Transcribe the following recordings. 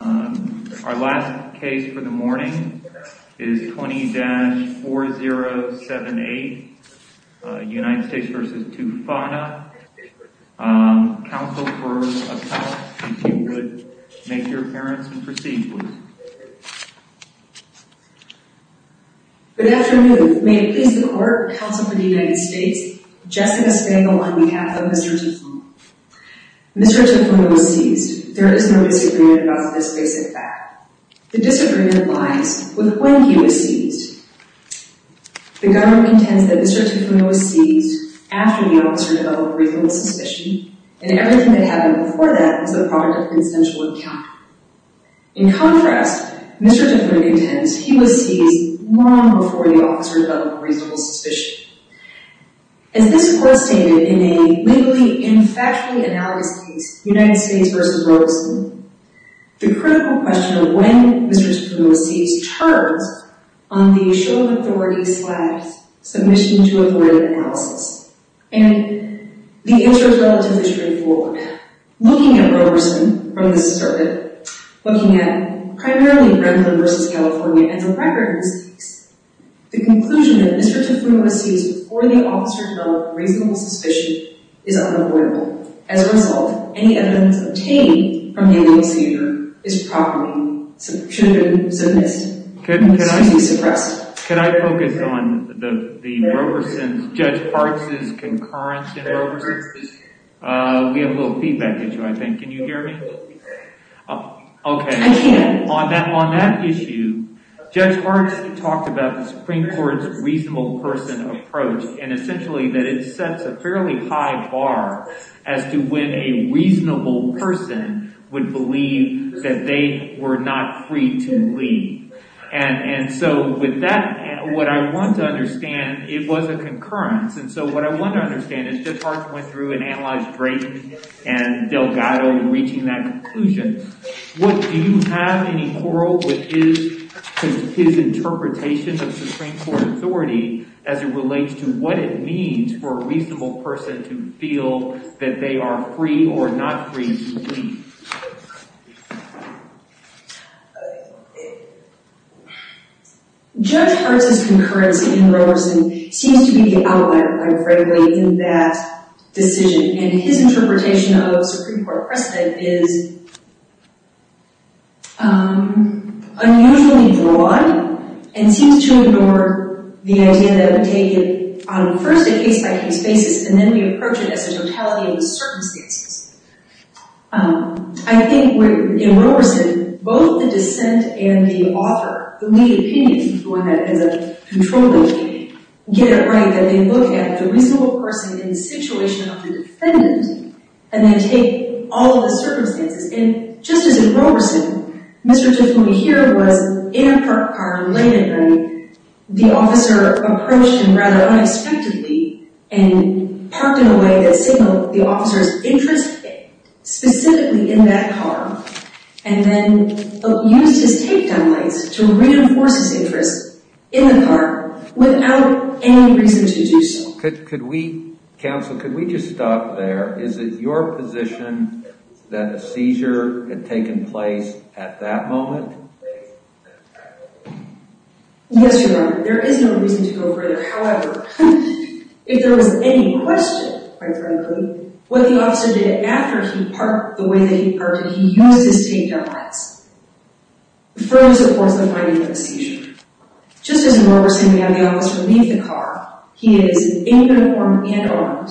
Our last case for the morning is 20-4078 United States v. Tufana, counsel for appellate, if you would make your appearance and proceed please. Good afternoon, may it please the court, counsel for the United States, Jessica Spangl on behalf of Mr. Tufana. Mr. Tufana was seized. There is no disagreement about this basic fact. The disagreement lies with when he was seized. The government intends that Mr. Tufana was seized after the officer developed reasonable suspicion and everything that happened before that was the product of consensual encounter. In contrast, Mr. Tufana intends he was seized long before the officer developed reasonable suspicion. As this court stated in a legally and factually analysed case, United States v. Roberson, the critical question of when Mr. Tufana was seized turns on the show of authority slash submission to avoid analysis. And the answer is relatively straightforward. Looking at Roberson from the circuit, looking at primarily Brendan v. California and the record in this case, the conclusion that Mr. Tufana was seized before the officer developed reasonable suspicion is unavoidable. As a result, any evidence obtained from a legal procedure is properly, should have been, should have been suppressed. Could I focus on the Roberson's, Judge Parks' concurrence in Roberson? We have a little feedback issue, I think. Can you hear me? Okay. On that issue, Judge Parks talked about the Supreme Court's reasonable person approach and essentially that it sets a fairly high bar as to when a reasonable person would believe that they were not free to leave. And so with that, what I want to understand, it was a concurrence. And so what I want to understand is that Judge Parks went through and analyzed Drake and Delgado in reaching that conclusion. Do you have any quarrel with his interpretation of Supreme Court authority as it relates to what it means for a reasonable person to feel that they are free or not free to leave? Judge Parks' concurrence in Roberson seems to be the outlier, I would say, in that decision. And his interpretation of Supreme Court precedent is unusually broad and seems to ignore the idea that we take it on first a case-by-case basis and then we approach it as a totality of circumstances. I think in Roberson, both the dissent and the author, the lead opinion is the one that has control of the opinion, get it right that they look at the reasonable person in the situation of the defendant and they take all of the circumstances. And just as in Roberson, Mr. Tiffany here was in a parked car late at night. The officer approached him rather unexpectedly and parked in a way that signaled the officer's interest specifically in that car and then used his takedown lights to reinforce his interest in the car without any reason to do so. Counsel, could we just stop there? Is it your position that a seizure had taken place at that moment? Yes, Your Honor. There is no reason to go further. However, if there was any question, quite frankly, what the officer did after he parked the way that he parked and he used his takedown lights further supports the finding of a seizure. Just as in Roberson, we have the officer leave the car. He is in uniform and armed.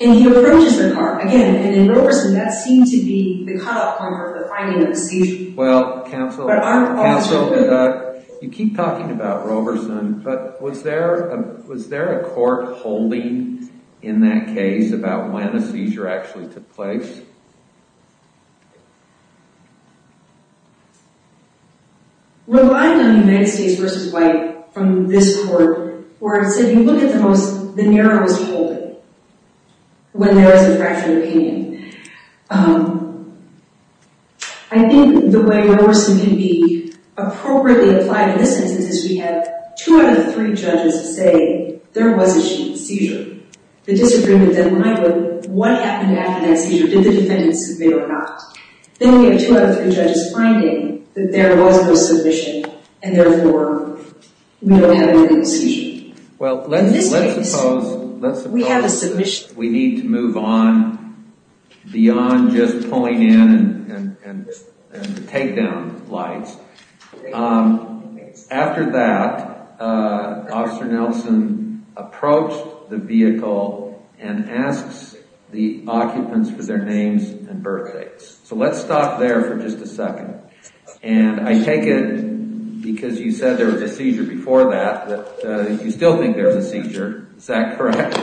And he approaches the car again and in Roberson, that seemed to be the cut-off point for the finding of a seizure. Well, Counsel, you keep talking about Roberson, but was there a court holding in that case about when a seizure actually took place? Relying on United States v. White from this court where it said you look at the most, when there is a fractured opinion. I think the way Roberson can be appropriately applied in this instance is we have two out of three judges say there was a seizure. The disagreement then might look, what happened after that seizure? Did the defendant submit or not? Then we have two out of three judges finding that there was no submission and therefore we don't have a medical seizure. Well, let's suppose we need to move on beyond just pulling in and takedown lights. After that, Officer Nelson approached the vehicle and asks the occupants for their names and birthdates. So let's stop there for just a second. And I take it because you said there was a seizure before that, that you still think there was a seizure. Is that correct?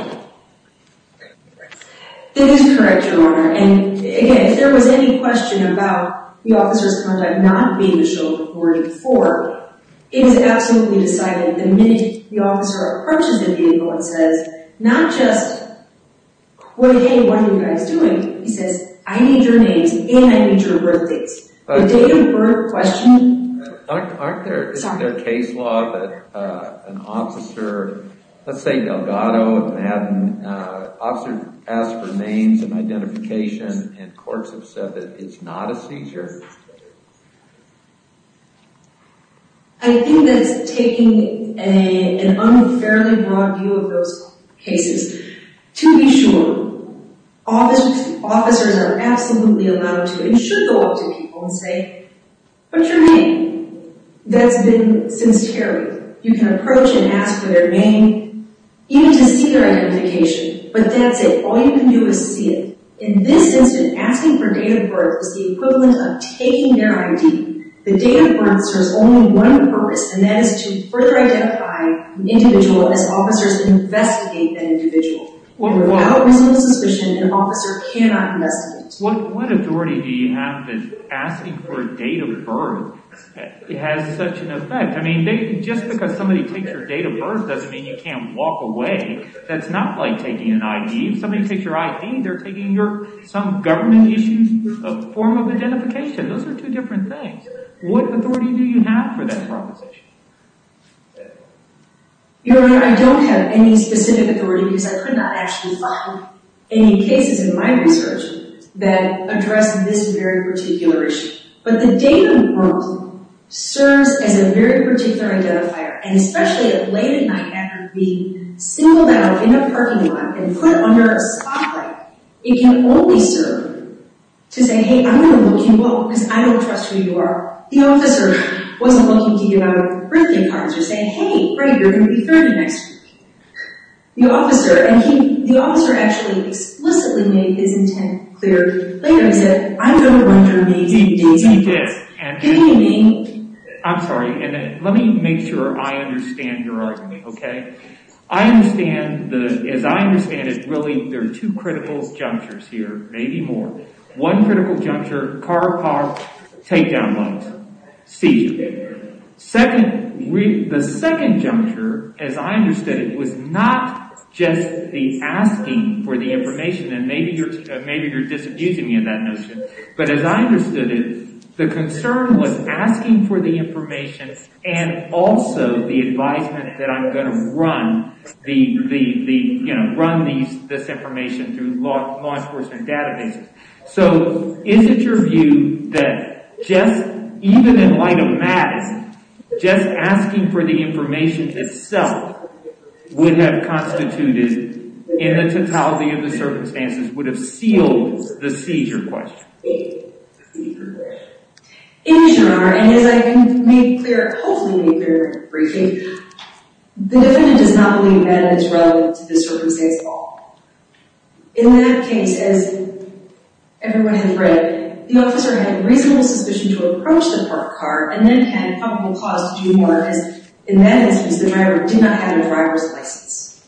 That is correct, Your Honor. And again, if there was any question about the officer's conduct not being the shoulder reported for, it is absolutely decided the minute the officer approaches the vehicle and says, not just, hey, what are you guys doing? He says, I need your names and I need your birthdates. The date of birth question... Isn't there a case law that an officer, let's say Delgado had an officer ask for names and identification and courts have said that it's not a seizure? I think that's taking an unfairly broad view of those cases. To be sure, officers are absolutely allowed to and should go up to people and say, what's your name? That's been sincerely. You can approach and ask for their name, even to see their identification, but that's it. All you can do is see it. In this instance, asking for date of birth is the equivalent of taking their ID. The date of birth serves only one purpose and that is to further identify an individual as officers investigate that individual. Without reasonable suspicion, an officer cannot investigate. What authority do you have that asking for a date of birth has such an effect? Just because somebody takes your date of birth doesn't mean you can't walk away. That's not like taking an ID. If somebody takes your ID, they're taking some government issue, a form of identification. Those are two different things. What authority do you have for that proposition? Your Honor, I don't have any specific authority because I could not actually find any cases in my research that address this very particular issue. But the date of birth serves as a very particular identifier, and especially at late at night after being singled out in a parking lot and put under a spotlight, it can only serve to say, hey, I'm going to look you up because I don't trust who you are. The officer wasn't looking to give out birthday cards or say, hey, right, you're going to be 30 next week. The officer actually explicitly made his intent clear later and said, I don't want your date of birth. He did. Didn't he? I'm sorry. Let me make sure I understand your argument, okay? As I understand it, really there are two critical junctures here, maybe more. One critical juncture, car, car, takedown lights, seizure. The second juncture, as I understood it, was not just the asking for the information, and maybe you're disabusing me in that notion, but as I understood it, the concern was asking for the information and also the advisement that I'm going to run this information through law enforcement databases. So, is it your view that just even in light of Mattis, just asking for the information itself would have constituted, in the totality of the circumstances, would have sealed the seizure question? In general, and as I made clear, hopefully made clear briefly, the defendant does not believe Mattis is relevant to this circumstance at all. In that case, as everyone has read, the officer had a reasonable suspicion to approach the parked car and then had a probable cause to do more, because in that instance, the driver did not have a driver's license.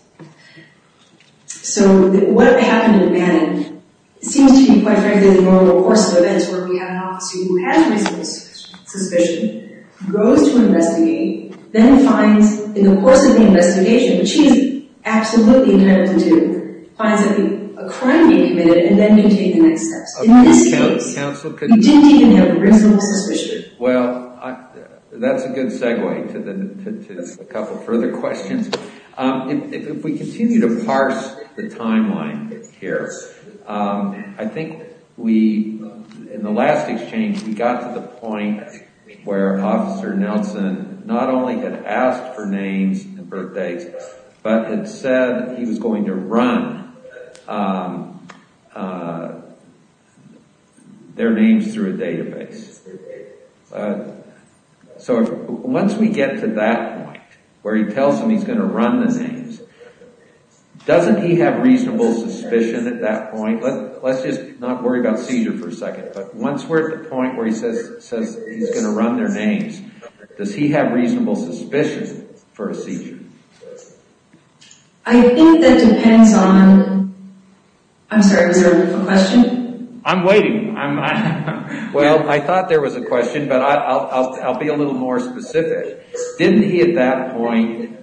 So, what happened at Manning seems to be, quite frankly, the normal course of events where we have an officer who has reasonable suspicion, goes to investigate, then finds in the course of the investigation, which he's absolutely entitled to do, finds a crime being committed, and then you take the next steps. In this case, he didn't even have a reasonable suspicion. Well, that's a good segue to a couple further questions. If we continue to parse the timeline here, I think we, in the last exchange, we got to the point where Officer Nelson not only had asked for names and birthdays, but had said he was going to run their names through a database. So, once we get to that point, where he tells them he's going to run the names, doesn't he have reasonable suspicion at that point? Let's just not worry about seizure for a second, but once we're at the point where he says he's going to run their names, does he have reasonable suspicion for a seizure? I think that depends on... I'm sorry, was there a question? I'm waiting. Well, I thought there was a question, but I'll be a little more specific. Didn't he at that point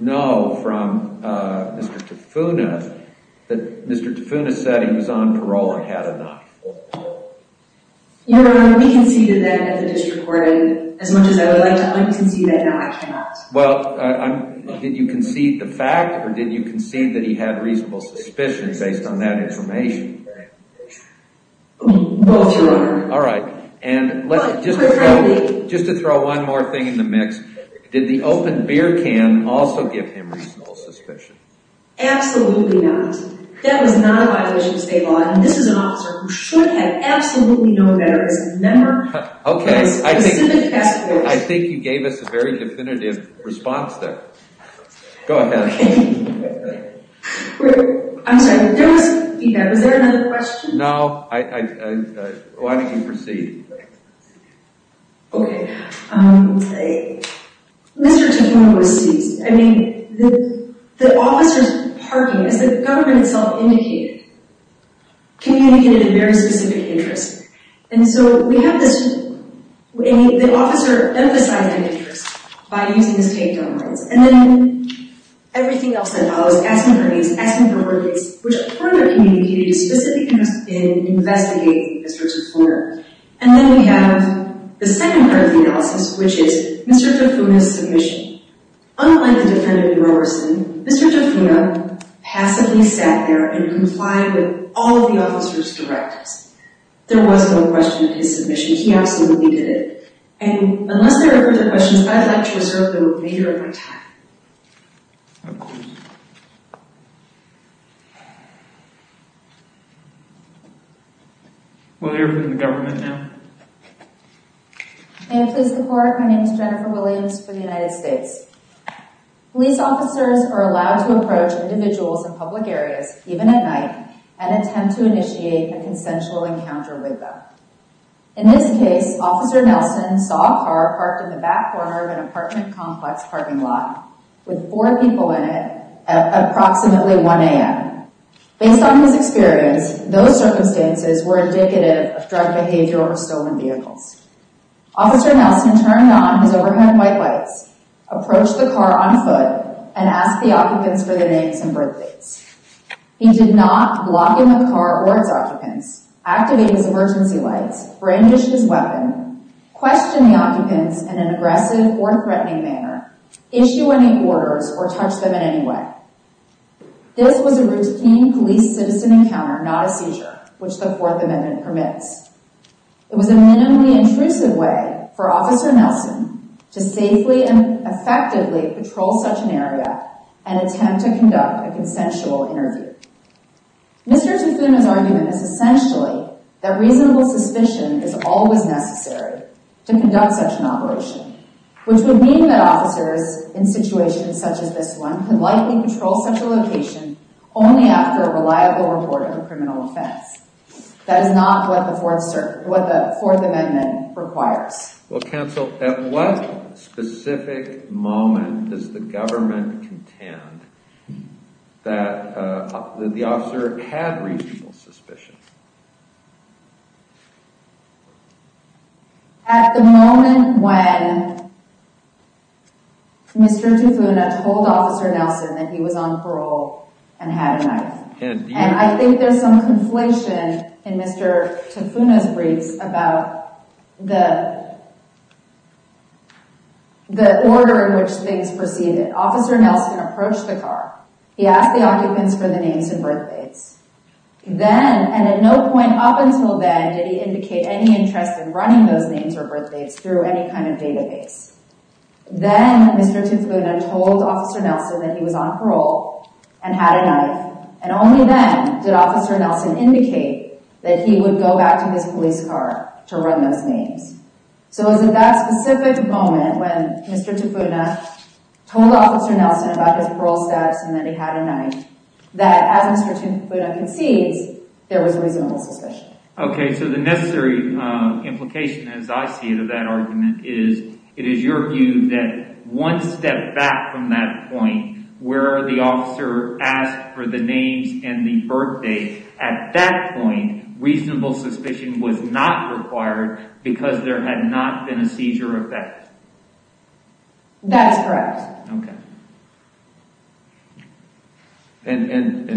know from Mr. Tafuna that Mr. Tafuna said he was on parole and had a knife? Your Honor, we conceded that at the district court, and as much as I would like to un-concede that, no, I cannot. Well, did you concede the fact, or did you concede that he had reasonable suspicion based on that information? Both, Your Honor. All right. And just to throw one more thing in the mix, did the open beer can also give him reasonable suspicion? Absolutely not. That was not a violation of state law, and this is an officer who should have absolutely known better as a member of a specific task force. Okay. I think you gave us a very definitive response there. Go ahead. Okay. I'm sorry, but there was... Yeah, was there another question? No. Why don't you proceed? Okay. Let's see. Mr. Tafuna was seized. I mean, the officer's parking, as the government itself indicated, communicated a very specific interest. And so we have this... The officer emphasized an interest by using the state gun rights, and then everything else that follows, asking for names, asking for work dates, which further communicated a specific interest in investigating Mr. Tafuna. And then we have the second part of the analysis, which is Mr. Tafuna's submission. Unlike the defendant in Roberson, Mr. Tafuna passively sat there and complied with all of the officer's directives. There was no question of his submission. He absolutely did it. And unless there are further questions, I'd like to reserve the remainder of my time. Okay. We'll hear from the government now. May I please report? My name is Jennifer Williams for the United States. Police officers are allowed to approach individuals in public areas, even at night, and attempt to initiate a consensual encounter with them. In this case, Officer Nelson saw a car parked in the back corner of an apartment complex parking lot with four people in it at approximately 1 a.m. Based on his experience, those circumstances were indicative of drug behavior or stolen vehicles. Officer Nelson turned on his overhead white lights, approached the car on foot, and asked the occupants for their names and birthdates. He did not block in the car or its occupants, activate his emergency lights, brandish his weapon, question the occupants in an aggressive or threatening manner, issue any orders, or touch them in any way. This was a routine police citizen encounter, not a seizure, which the Fourth Amendment permits. It was a minimally intrusive way for Officer Nelson to safely and effectively patrol such an area and attempt to conduct a consensual interview. Mr. Tufuma's argument is essentially that reasonable suspicion is always necessary to which would mean that officers in situations such as this one could likely patrol such a location only after a reliable report of a criminal offense. That is not what the Fourth Amendment requires. Well, counsel, at what specific moment does the government contend that the officer had reasonable suspicion? At the moment when Mr. Tufuma told Officer Nelson that he was on parole and had a knife. And I think there's some conflation in Mr. Tufuma's briefs about the order in which things proceeded. Officer Nelson approached the car. He asked the occupants for their names and at no point up until then did he indicate any interest in running those names or birth dates through any kind of database. Then Mr. Tufuma told Officer Nelson that he was on parole and had a knife, and only then did Officer Nelson indicate that he would go back to his police car to run those names. So it was at that specific moment when Mr. Tufuma told Officer Nelson about his parole status and that he had a knife, that as Mr. Tufuma concedes, there was reasonable suspicion. Okay, so the necessary implication, as I see it, of that argument is it is your view that one step back from that point where the officer asked for the names and the birth date, at that point reasonable suspicion was not required because there had not been a seizure of that. That is correct. Yes. Okay. And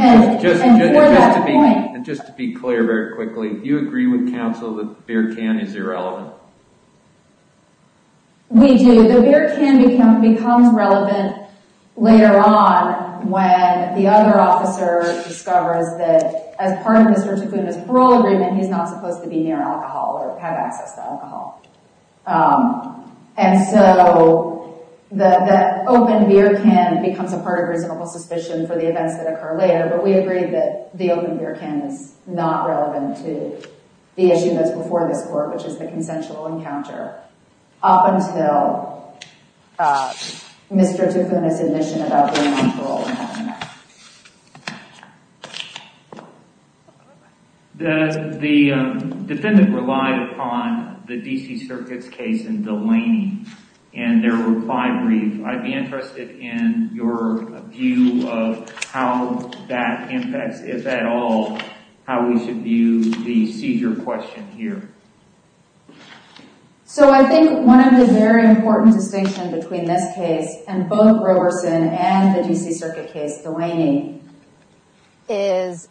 just to be clear very quickly, do you agree with counsel that the beer can is irrelevant? We do. The beer can becomes relevant later on when the other officer discovers that as part of Mr. Tufuma's parole agreement, he is not supposed to be near alcohol or have And the open beer can becomes a part of reasonable suspicion for the events that occur later, but we agree that the open beer can is not relevant to the issue that is before this court, which is the consensual encounter up until Mr. Tufuma's admission about being on parole and having a knife. The defendant relied upon the D.C. Circuit's case in Delaney and their reply brief. I'd be interested in your view of how that impacts, if at all, how we should view the seizure question here. So I think one of the very important distinction between this case and both Roberson and the Delaney is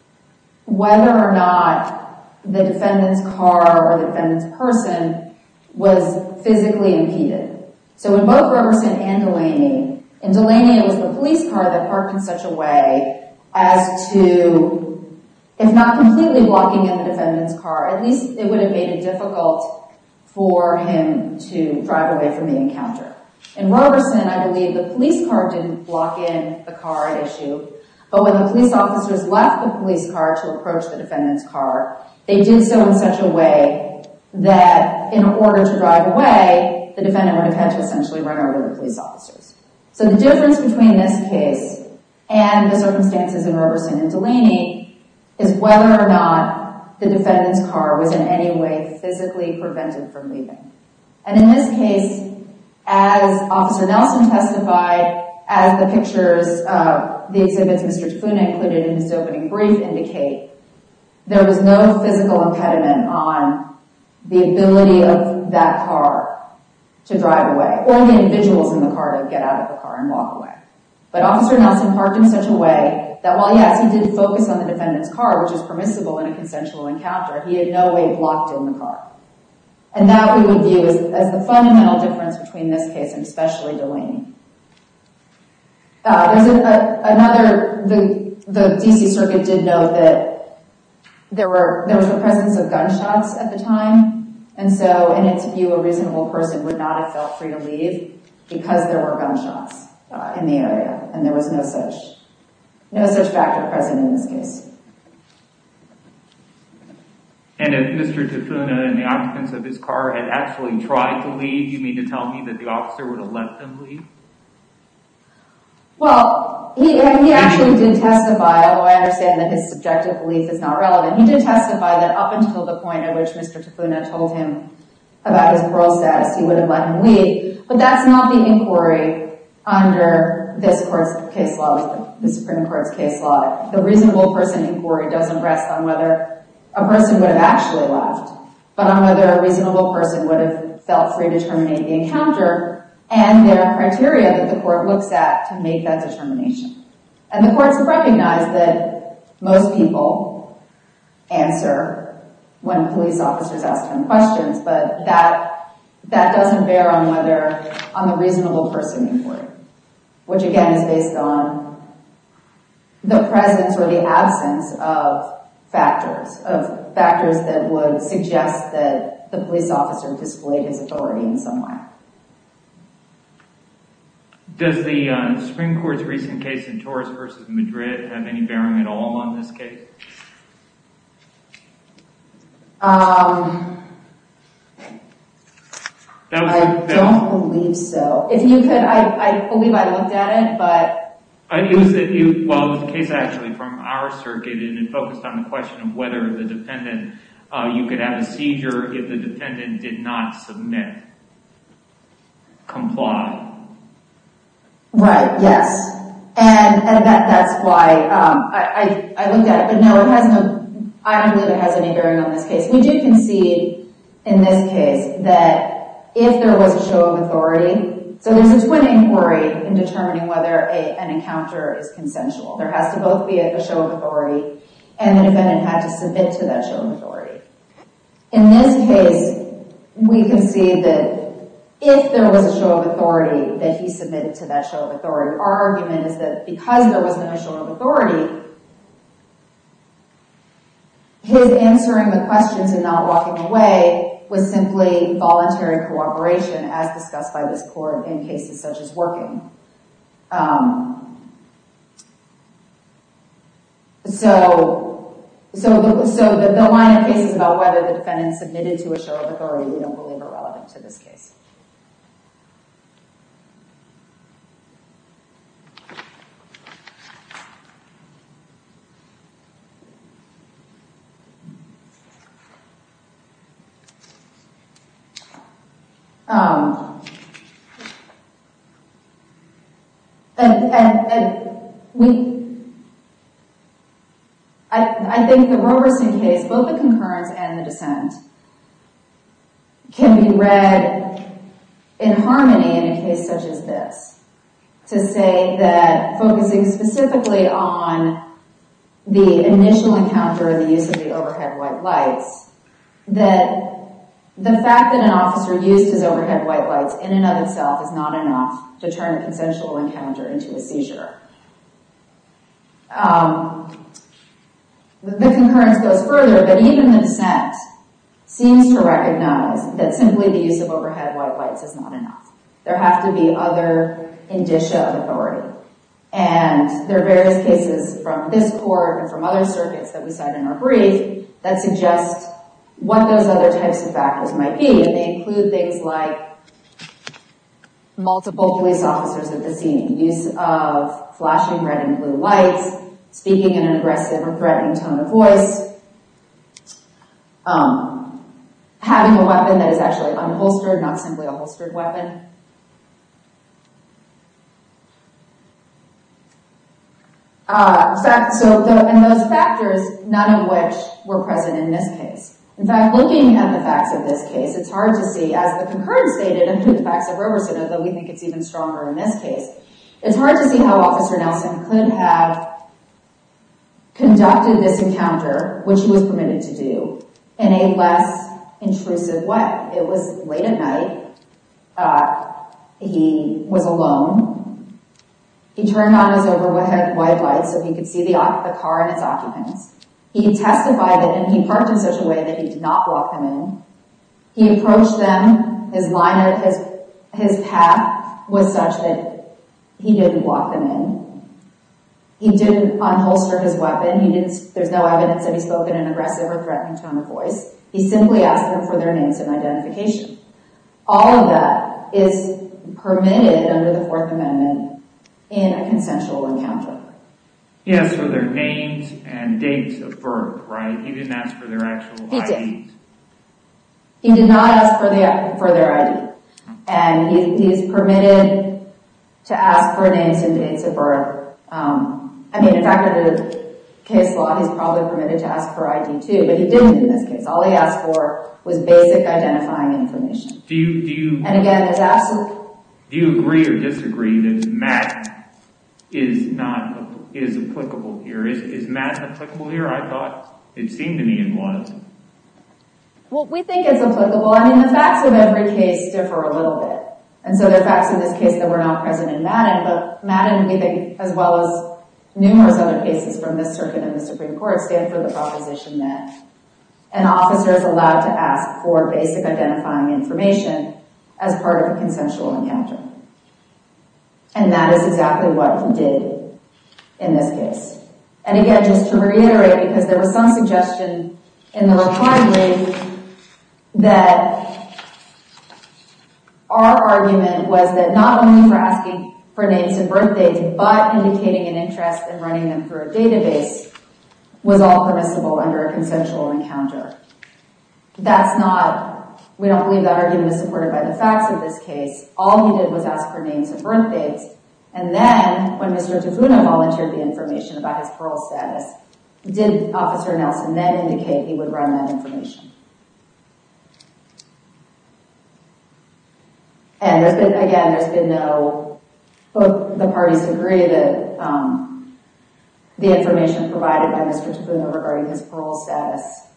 whether or not the defendant's car or the defendant's person was physically impeded. So in both Roberson and Delaney, in Delaney it was the police car that parked in such a way as to, if not completely blocking in the defendant's car, at least it would have made it difficult for him to drive away from the encounter. In Roberson, I believe the police car didn't block in the car at issue, but when the police officers left the police car to approach the defendant's car, they did so in such a way that in order to drive away, the defendant would have had to essentially run over the police officers. So the difference between this case and the circumstances in Roberson and Delaney is whether or not the defendant's car was in any way physically prevented from leaving. And in this case, as Officer Nelson testified, as the pictures of the exhibits Mr. Tafuna included in his opening brief indicate, there was no physical impediment on the ability of that car to drive away, or the individuals in the car to get out of the car and walk away. But Officer Nelson parked in such a way that while, yes, he did focus on the defendant's car, which is permissible in a consensual encounter, he had no way blocked in the car. And that we would view as the fundamental difference between this case and especially Delaney. There's another, the D.C. Circuit did note that there was the presence of gunshots at the time, and so in its view, a reasonable person would not have felt free to leave because there were gunshots in the area, and there was no such factor present in this case. And if Mr. Tafuna and the occupants of his car had actually tried to leave, you mean to tell me that the officer would have let them leave? Well, he actually did testify, although I understand that his subjective belief is not relevant, he did testify that up until the point at which Mr. Tafuna told him about his parole status, he would have let him leave. But that's not the inquiry under this Court's case law, the Supreme Court's case law. The reasonable person inquiry doesn't rest on whether a person would have actually left, but on whether a reasonable person would have felt free to terminate the encounter and their criteria that the Court looks at to make that determination. And the Courts recognize that most people answer when police officers ask them questions, but that doesn't bear on whether, on the reasonable person inquiry, which again is based on the presence or the absence of factors, of factors that would suggest that the police officer displayed his authority in some way. Does the Supreme Court's recent case in Torres v. Madrid have any bearing at all on this case? I don't believe so. If you could, I believe I looked at it, but... It was a case actually from our circuit and it focused on the question of whether the defendant, you could have a seizure if the defendant did not submit, comply. Right, yes. And that's why I looked at it. But no, I don't believe it has any bearing on this case. We do concede in this case that if there was a show of authority, so there's a twin inquiry in determining whether an encounter is consensual. There has to both be a show of authority and the defendant had to submit to that show of authority. In this case, we concede that if there was a show of authority, that he submitted to that show of authority. Our argument is that because there wasn't a show of authority, his answering the questions and not walking away was simply voluntary cooperation as discussed by this Court in cases such as working. So the line of cases about whether the defendant submitted to a show of authority we don't believe are relevant to this case. I think the Roberson case, both the concurrence and the dissent, can be read in harmony in a case such as this to say that focusing specifically on the initial encounter, the use of the overhead white lights, that the fact that an officer used his overhead white lights in and of itself is not enough to turn a consensual encounter into a seizure. The concurrence goes further, but even the dissent seems to recognize that simply the use of overhead white lights is not enough. There have to be other indicia of authority and there are various cases from this Court and from other circuits that we cite in our brief that suggest what those other types of factors might be, and they include things like multiple police officers at the scene, use of flashing red and blue lights, speaking in an aggressive or threatening tone of voice, having a weapon that is actually unholstered, not simply a holstered weapon. And those factors, none of which were present in this case. In fact, looking at the facts of this case, it's hard to see, as the concurrence stated and the facts of Roberson, although we think it's even stronger in this case, it's hard to see how Officer Nelson could have conducted this encounter, which he was permitted to do, in a less intrusive way. It was late at night, he was alone, he turned on his overhead white lights so he could see the car and its occupants. He testified that he parked in such a way that he did not block them in, he approached them, his line, his path was such that he didn't block them in, he didn't unholster his weapon, there's no evidence that he spoke in an aggressive or threatening tone of voice, he simply asked them for their names and identification. All of that is permitted under the Fourth Amendment in a consensual encounter. He asked for their names and dates of birth, right? He didn't ask for their actual IDs? He did. He did not ask for their ID. And he's permitted to ask for names and dates of birth. I mean, in fact, under the case law, he's probably permitted to ask for ID too, but he didn't in this case. All he asked for was basic identifying information. Do you... And again, there's absolutely... Do you agree or disagree that Matt is not... Is applicable here? Is Matt applicable here? I thought it seemed to me it was. Well, we think it's applicable. I mean, the facts of every case differ a little bit. And so, there are facts in this case that were not present in Madden, but Madden, we think, as well as numerous other cases from this circuit and the Supreme Court, stand for the proposition that an officer is allowed to ask for basic identifying information as part of a consensual encounter. And that is exactly what he did in this case. And again, just to reiterate, because there was some suggestion in the reply brief that our argument was that not only for asking for names and birth dates, but indicating an interest in running them through a database was all permissible under a consensual encounter. That's not... We don't believe that argument is supported by the facts of this case. All he did was ask for names and birth dates. And then, when Mr. Tafuna volunteered the information about his parole status, did Officer Nelson then indicate he would run that information? And there's been... Again, there's been no... The information provided by Mr. Tafuna regarding his parole status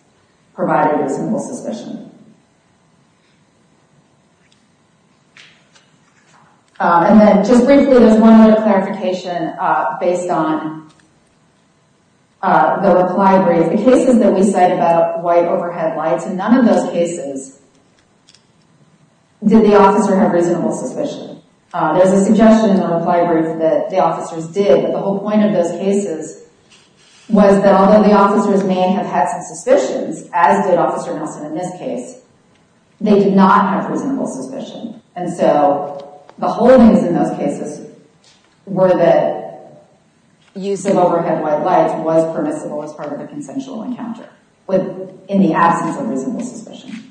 provided reasonable suspicion. And then, just briefly, there's one other clarification based on the reply brief. The cases that we cite about white overhead lights, in none of those cases did the officer have reasonable suspicion. There's a suggestion in the reply brief that the officers did, but the whole point of those cases was that although the officers may have had some suspicions, as did Officer Nelson in this case, they did not have reasonable suspicion. And so, the holdings in those cases were that use of overhead white lights was permissible as part of a consensual encounter in the absence of reasonable suspicion.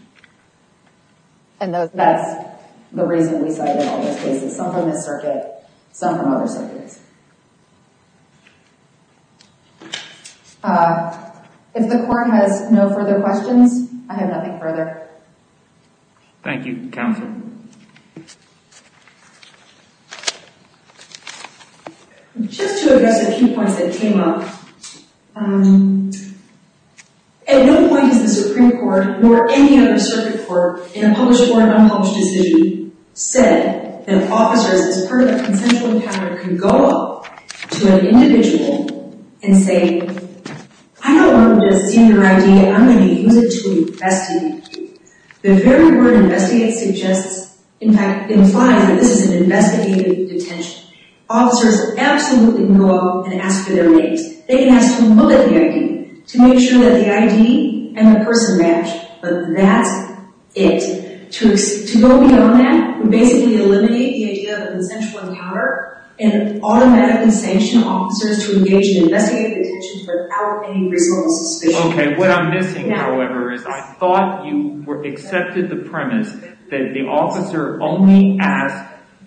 And that's the reason we cite in all those cases. Some from this circuit, some from other circuits. If the court has no further questions, I have nothing further. Thank you, Counsel. Just to address a few points that came up. At no point has the Supreme Court, nor any other circuit court, in a published or unpublished decision, said that officers, as part of a consensual encounter, can go up to an individual and say, I don't want to see your ID, and I'm going to use it to investigate you. The very word investigate suggests, in fact, implies that this is an investigative detention. Officers absolutely can go up and ask for their names. They can ask to look at the ID, to make sure that the ID and the person match. But that's it. To go beyond that would basically eliminate the idea of a consensual encounter and automatically sanction officers to engage in investigative detention without any reasonable suspicion. Okay, what I'm missing, however, is I thought you accepted the premise that the officer only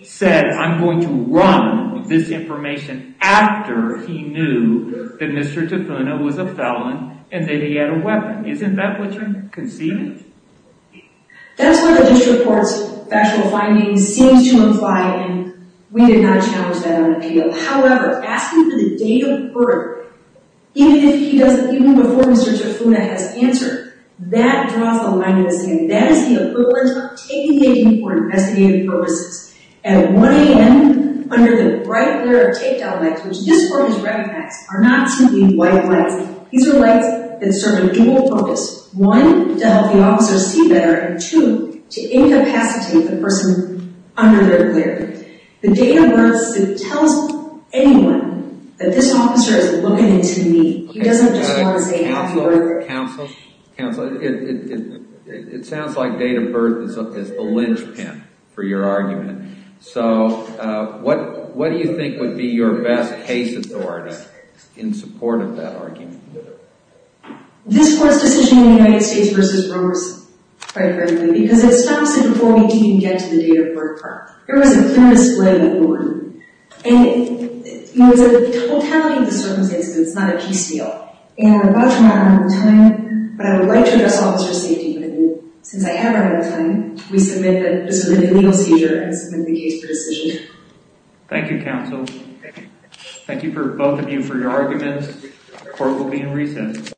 said, I'm going to run this information after he knew that Mr. Tafuna was a felon and that he had a weapon. Isn't that what you're concealing? That's what the district court's factual findings seem to imply, and we did not challenge that on appeal. However, asking for the date of birth, even before Mr. Tafuna has answered, that draws the mind of the city. And that is the equivalent of taking a key for investigative purposes. At 1 a.m., under the bright glare of takedown lights, which just for his record, are not simply white lights. These are lights that serve a dual purpose. One, to help the officer see better, and two, to incapacitate the person under their glare. The date of birth tells anyone that this officer is looking into me. He doesn't just want to say after birth. Counsel? Counsel, it sounds like date of birth is the linchpin for your argument. So, what do you think would be your best case authority in support of that argument? This court's decision in the United States v. Rovers, quite frankly, because it stops it before we even get to the date of birth part. There was a clear display of mourning. It was a totality of the circumstance, but it's not a peace deal. And I'm about to run out of time, but I would like to address officer safety with you. Since I have run out of time, we submit that this was a legal seizure and submit the case for decision. Thank you, counsel. Thank you both of you for your arguments. Court will be in recess.